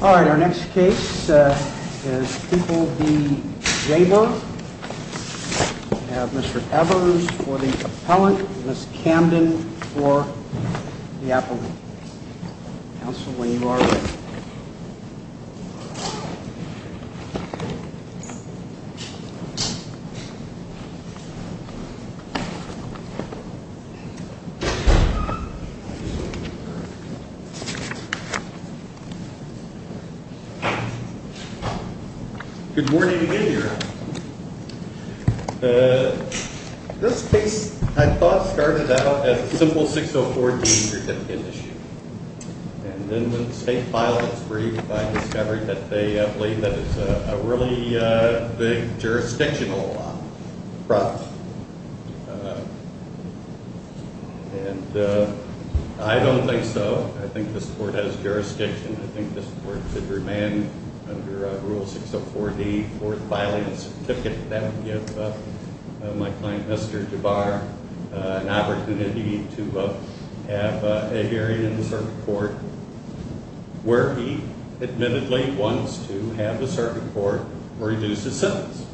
Alright, our next case is People v. Jaber. We have Mr. Evers for the appellant and Ms. Camden for the appellant. Counsel, when you are ready. Good morning, again, your honor. This case, I thought, started out as a simple 604D certificate issue. And then the state file was briefed by the discovery that they believe that it's a really big jurisdictional problem. And I don't think so. I think this court has jurisdiction. I think this court should remain under Rule 604D, fourth filing certificate. That would give my client, Mr. Jaber, an opportunity to have a hearing in the circuit court where he admittedly wants to have the circuit court reduce his sentence.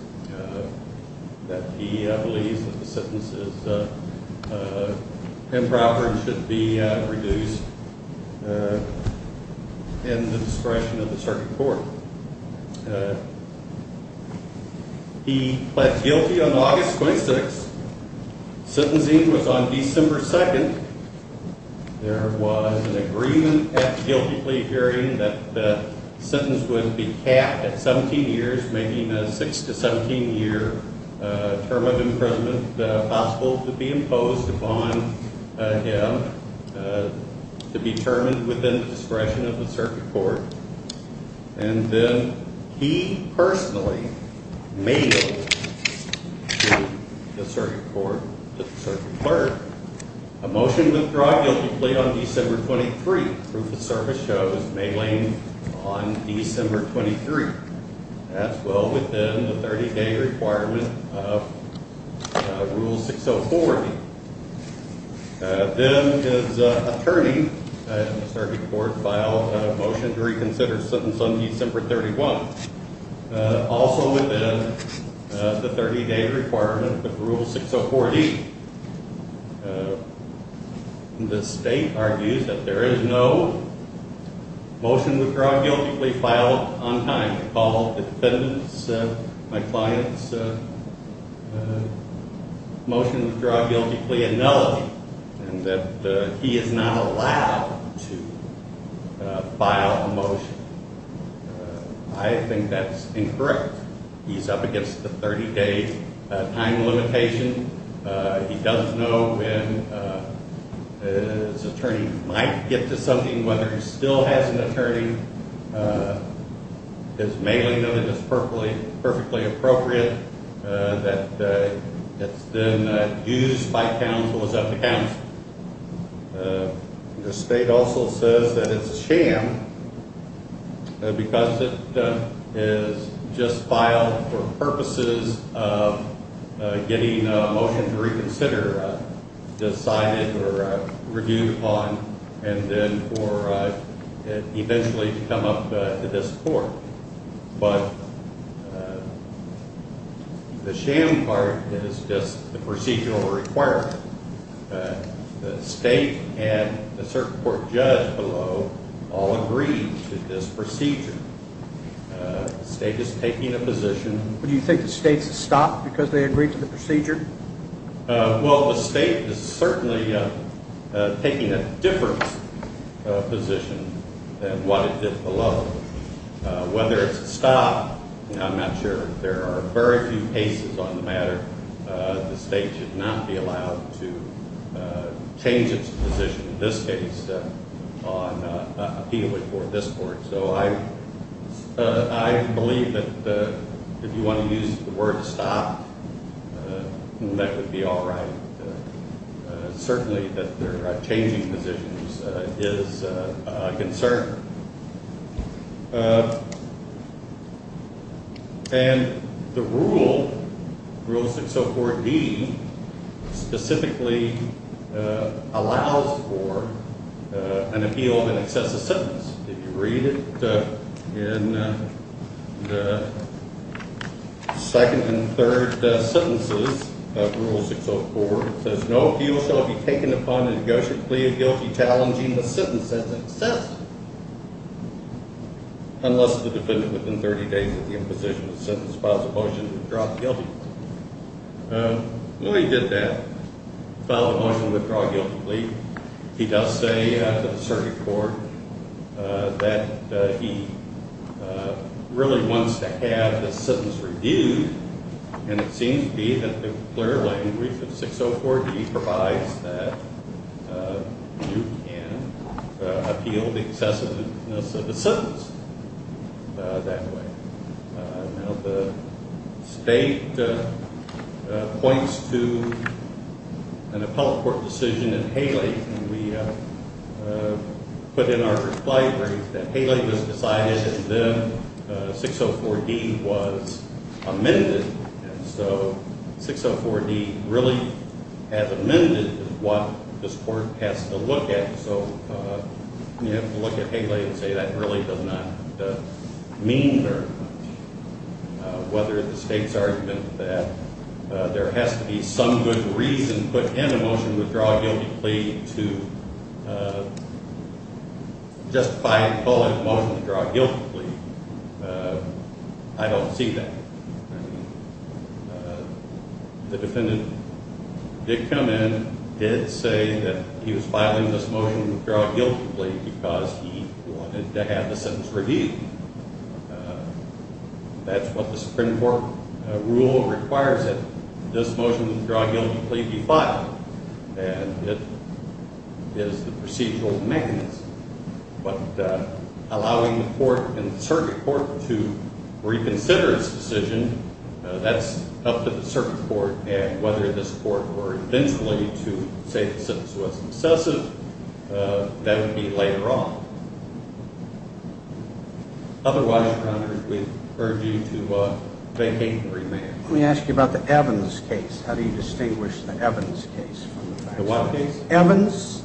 That he believes that the sentence is improper and should be reduced in the discretion of the circuit court. He pled guilty on August 26th. Sentencing was on December 2nd. There was an agreement at the guilty plea hearing that the sentence would be capped at 17 years, making a 6-17 year term of imprisonment possible to be imposed upon him. To be determined within the discretion of the circuit court. And then he personally mailed to the circuit court, the circuit clerk, a motion to withdraw guilty plea on December 23rd. Proof of service shows mailing on December 23rd. That's well within the 30-day requirement of Rule 604D. Then his attorney and the circuit court filed a motion to reconsider the sentence on December 31st. Also within the 30-day requirement of Rule 604D. The state argues that there is no motion to withdraw guilty plea filed on time. My client's motion to withdraw guilty plea, a nullity. And that he is not allowed to file a motion. I think that's incorrect. He's up against the 30-day time limitation. He does know when his attorney might get to something, whether he still has an attorney. His mailing of it is perfectly appropriate. That it's been used by counsel is up to counsel. The state also says that it's a sham. Because it is just filed for purposes of getting a motion to reconsider decided or reviewed upon. And then for it eventually to come up to this court. But the sham part is just the procedural requirement. The state and the circuit court judge below all agree to this procedure. The state is taking a position. Do you think the state should stop because they agree to the procedure? Well, the state is certainly taking a different position than what it did below. Whether it's a stop, I'm not sure. There are very few cases on the matter. The state should not be allowed to change its position, in this case, on appeal before this court. So I believe that if you want to use the word stop, that would be all right. Certainly that they're changing positions is a concern. And the rule, Rule 604B, specifically allows for an appeal of an excessive sentence. If you read it, in the second and third sentences of Rule 604, it says, No appeal shall be taken upon a negotiated plea of guilty challenging the sentence as excessive. Unless the defendant within 30 days of the imposition of the sentence files a motion to withdraw guilty. When he did that, filed a motion to withdraw guilty plea, he does say to the circuit court that he really wants to have the sentence reviewed. And it seems to be that the clear language of 604B provides that you can appeal the excessiveness of the sentence that way. Now the state points to an appellate court decision in Haley. And we put in our reply brief that Haley was decided and then 604D was amended. And so 604D really has amended what this court has to look at. And so you have to look at Haley and say that really does not mean very much. Whether the state's argument that there has to be some good reason put in a motion to withdraw a guilty plea to justify calling a motion to withdraw a guilty plea, I don't see that. The defendant did come in, did say that he was filing this motion to withdraw a guilty plea because he wanted to have the sentence reviewed. That's what the Supreme Court rule requires that this motion to withdraw a guilty plea be filed. And it is the procedural mechanism. But allowing the court and the circuit court to reconsider its decision, that's up to the circuit court. And whether this court were eventually to say the sentence was excessive, that would be later on. Otherwise, Your Honor, we urge you to vacate the remand. Let me ask you about the Evans case. How do you distinguish the Evans case from the Faxon case? The what case? Evans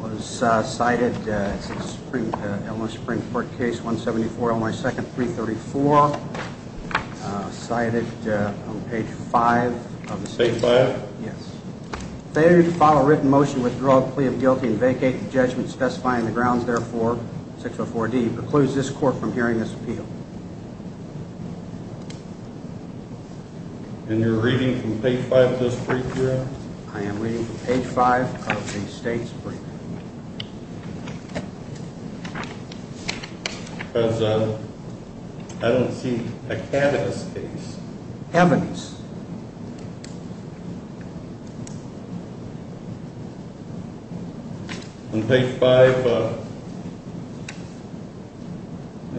was cited in the Supreme Court case 174 on my second, 334. Cited on page 5. Page 5? Yes. Failure to file a written motion to withdraw a plea of guilty and vacate the judgment specifying the grounds, therefore, 604D, precludes this court from hearing this appeal. And you're reading from page 5 of this brief, Your Honor? I am reading from page 5 of the state's brief. Because I don't see a candidate's case. Evans. On page 5,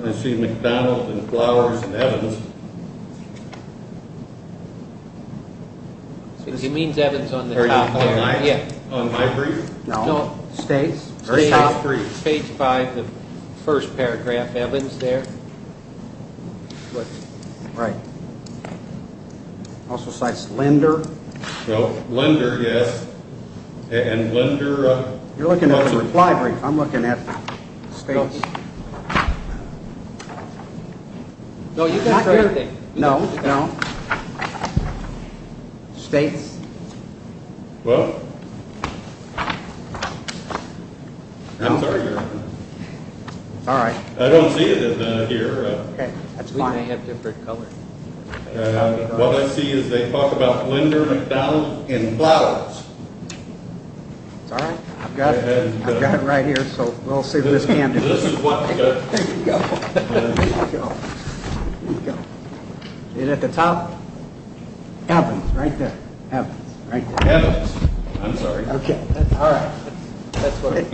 I see McDonald and Flowers and Evans. He means Evans on the top there. On my brief? No. States. Page 5, the first paragraph, Evans there. Right. Also cites Lender. Lender, yes. And Lender. You're looking at the reply brief. I'm looking at states. No, you've got everything. No, no. States. Well, I'm sorry, Your Honor. It's all right. I don't see it here. We may have different colors. What I see is they talk about Lender, McDonald, and Flowers. It's all right. I've got it. I've got it right here. We'll see what this can do. There you go. There you go. Is it at the top? Evans, right there. Evans, right there. Evans. I'm sorry. Okay. All right. That's what it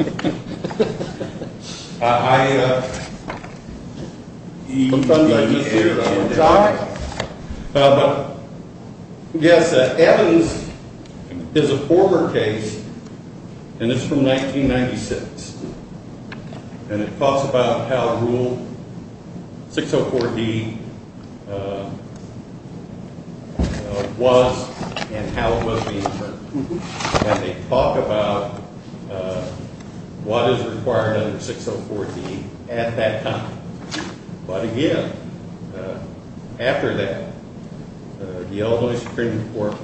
is. It's all right. But, yes, Evans is a former case, and it's from 1996. And it talks about how Rule 604D was and how it was being served. And they talk about what is required under 604D at that time. But, again, after that, the Illinois Supreme Court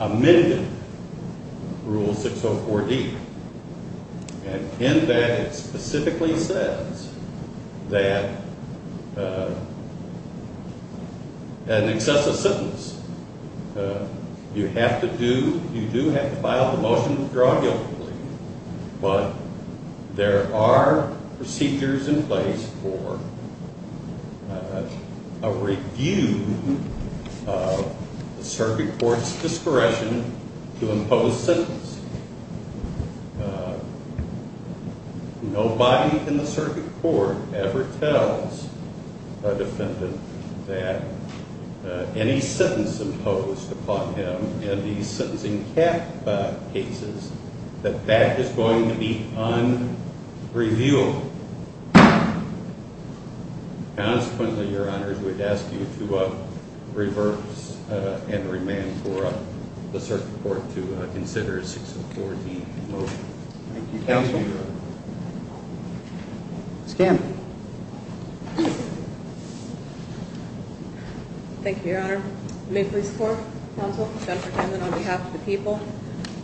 amended Rule 604D. And in that, it specifically says that an excessive sentence, you have to do, you do have to file the motion to draw a guilty plea. But there are procedures in place for a review of the circuit court's discretion to impose sentence. Nobody in the circuit court ever tells a defendant that any sentence imposed upon him in the sentencing cap cases, that that is going to be unreviewable. Consequently, Your Honor, we'd ask you to reverse and remand for the circuit court to consider a 604D motion. Thank you, Counsel. Thank you, Your Honor. Ms. Gannon. Thank you, Your Honor. May it please the Court, Counsel, Jennifer Gannon on behalf of the people.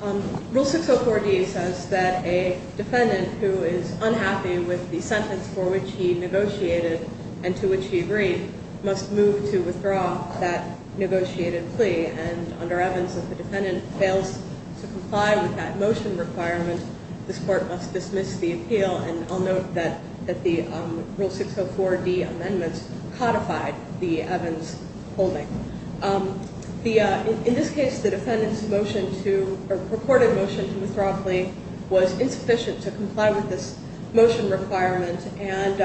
Rule 604D says that a defendant who is unhappy with the sentence for which he negotiated and to which he agreed must move to withdraw that negotiated plea. And under Evans, if the defendant fails to comply with that motion requirement, this Court must dismiss the appeal. And I'll note that the Rule 604D amendments codified the Evans holding. In this case, the defendant's motion to, or purported motion to withdraw plea, was insufficient to comply with this motion requirement. And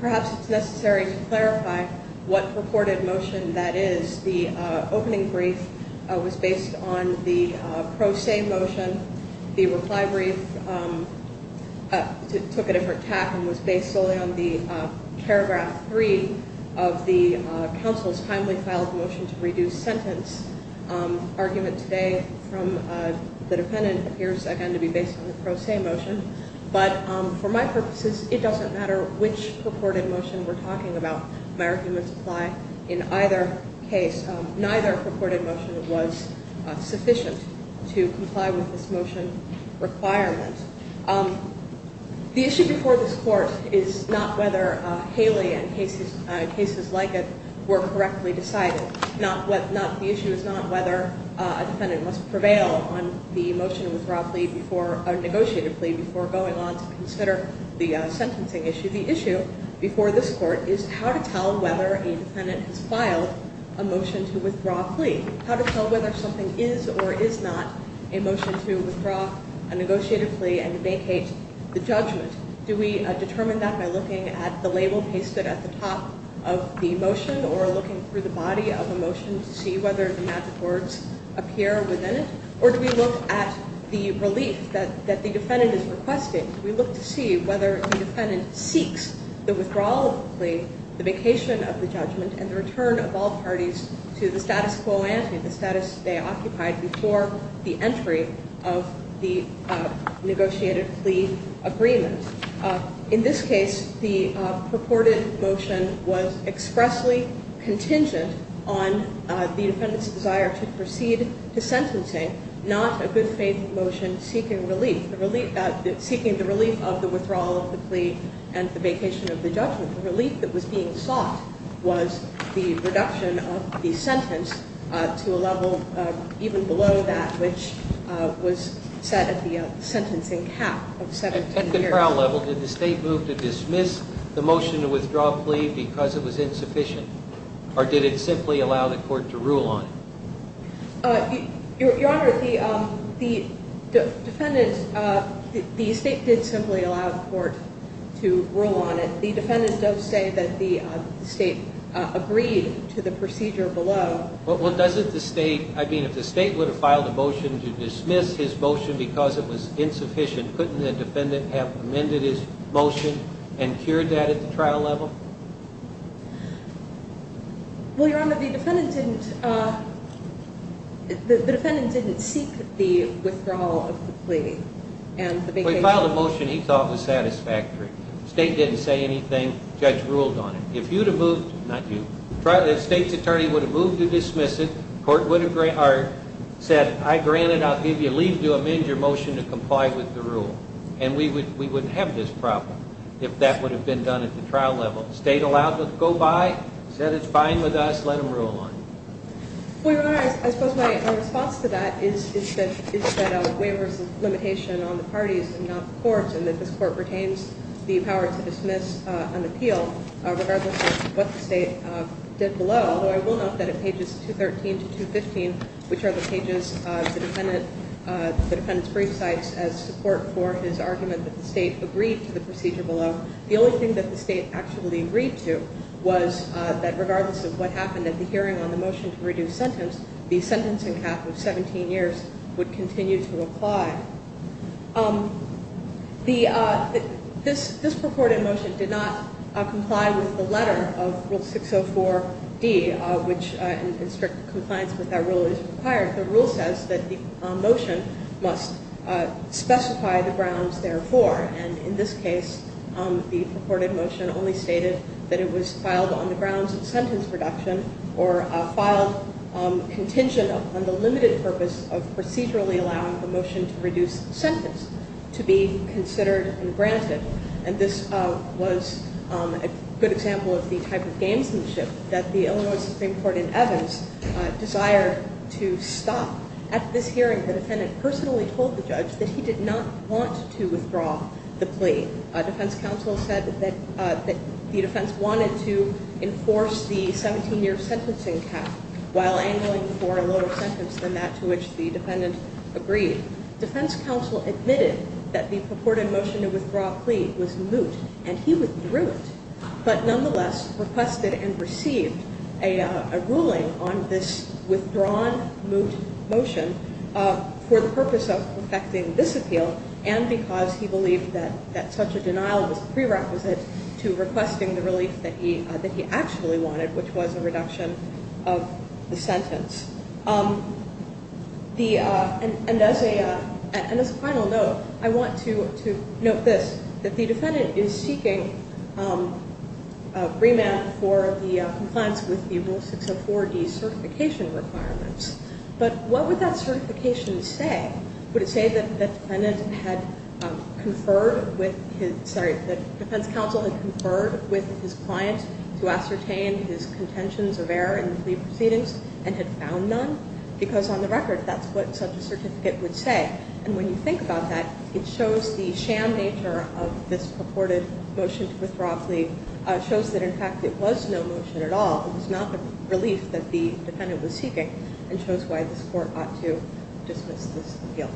perhaps it's necessary to clarify what purported motion that is. The opening brief was based on the pro se motion. The reply brief took a different tack and was based solely on the paragraph 3 of the Counsel's timely filed motion to reduce sentence argument today from the defendant. It appears, again, to be based on the pro se motion. But for my purposes, it doesn't matter which purported motion we're talking about. My arguments apply in either case. Neither purported motion was sufficient to comply with this motion requirement. The issue before this Court is not whether Haley and cases like it were correctly decided. The issue is not whether a defendant must prevail on the motion to withdraw plea before, or negotiated plea before going on to consider the sentencing issue. The issue before this Court is how to tell whether a defendant has filed a motion to withdraw plea. How to tell whether something is or is not a motion to withdraw a negotiated plea and vacate the judgment. Do we determine that by looking at the label pasted at the top of the motion, or looking through the body of a motion to see whether the magic words appear within it? Or do we look at the relief that the defendant is requesting? We look to see whether the defendant seeks the withdrawal of the plea, the vacation of the judgment, and the return of all parties to the status quo ante, the status they occupied before the entry of the negotiated plea agreement. In this case, the purported motion was expressly contingent on the defendant's desire to proceed to sentencing, not a good faith motion seeking relief. Seeking the relief of the withdrawal of the plea and the vacation of the judgment. The relief that was being sought was the reduction of the sentence to a level even below that which was set at the sentencing cap of 17 years. At the trial level, did the State move to dismiss the motion to withdraw plea because it was insufficient, or did it simply allow the Court to rule on it? Your Honor, the State did simply allow the Court to rule on it. The defendant does say that the State agreed to the procedure below. Well, if the State would have filed a motion to dismiss his motion because it was insufficient, couldn't the defendant have amended his motion and cured that at the trial level? Well, Your Honor, the defendant didn't seek the withdrawal of the plea and the vacation. Well, he filed a motion he thought was satisfactory. The State didn't say anything. The judge ruled on it. If you had moved, not you, the State's attorney would have moved to dismiss it. The Court would have said, I grant it. I'll give you leave to amend your motion to comply with the rule. And we wouldn't have this problem if that would have been done at the trial level. The State allowed it to go by, said it's fine with us, let him rule on it. Well, Your Honor, I suppose my response to that is that a waiver is a limitation on the parties and not the Court, and that this Court retains the power to dismiss an appeal regardless of what the State did below. Although I will note that at pages 213 to 215, which are the pages the defendant's brief cites as support for his argument that the State agreed to the procedure below, the only thing that the State actually agreed to was that regardless of what happened at the hearing on the motion to reduce sentence, the sentencing cap of 17 years would continue to apply. This purported motion did not comply with the letter of Rule 604D, which in strict compliance with that rule is required. The rule says that the motion must specify the grounds therefore. And in this case, the purported motion only stated that it was filed on the grounds of sentence reduction or filed contingent on the limited purpose of procedurally allowing the motion to reduce sentence to be considered and granted. And this was a good example of the type of gamesmanship that the Illinois Supreme Court in Evans desired to stop. At this hearing, the defendant personally told the judge that he did not want to withdraw the plea. Defense counsel said that the defense wanted to enforce the 17-year sentencing cap while angling for a lower sentence than that to which the defendant agreed. Defense counsel admitted that the purported motion to withdraw plea was moot, and he withdrew it, but nonetheless requested and received a ruling on this withdrawn moot motion for the purpose of perfecting this appeal and because he believed that such a denial was a prerequisite to requesting the relief that he actually wanted, which was a reduction of the sentence. And as a final note, I want to note this, that the defendant is seeking remand for the compliance with the Rule 604D certification requirements. But what would that certification say? Would it say that the defense counsel had conferred with his client to ascertain his contentions of error in the plea proceedings and had found none? Because on the record, that's what such a certificate would say. And when you think about that, it shows the sham nature of this purported motion to withdraw plea. It shows that, in fact, there was no motion at all. It was not the relief that the defendant was seeking and shows why this court ought to dismiss this appeal.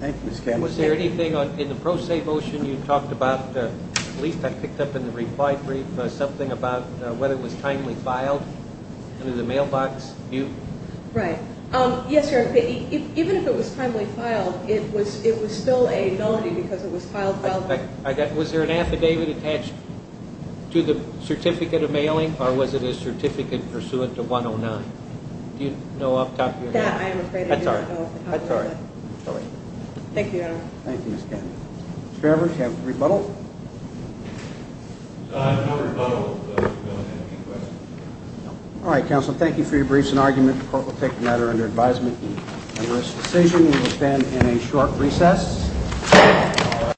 Thank you, Ms. Campbell. Was there anything in the pro se motion you talked about, a relief that picked up in the reply brief, something about whether it was timely filed under the mailbox moot? Right. Yes, Your Honor. Even if it was timely filed, it was still a notary because it was filed well. Was there an affidavit attached to the certificate of mailing or was it a certificate pursuant to 109? Do you know off the top of your head? That I am afraid I do not know off the top of my head. That's all right. Thank you, Your Honor. Thank you, Ms. Campbell. Mr. Everett, do you have a rebuttal? I have no rebuttal. I don't have any questions. All right, counsel. Thank you for your briefs and argument. The court will take the matter under advisement. And this decision will stand in a short recess.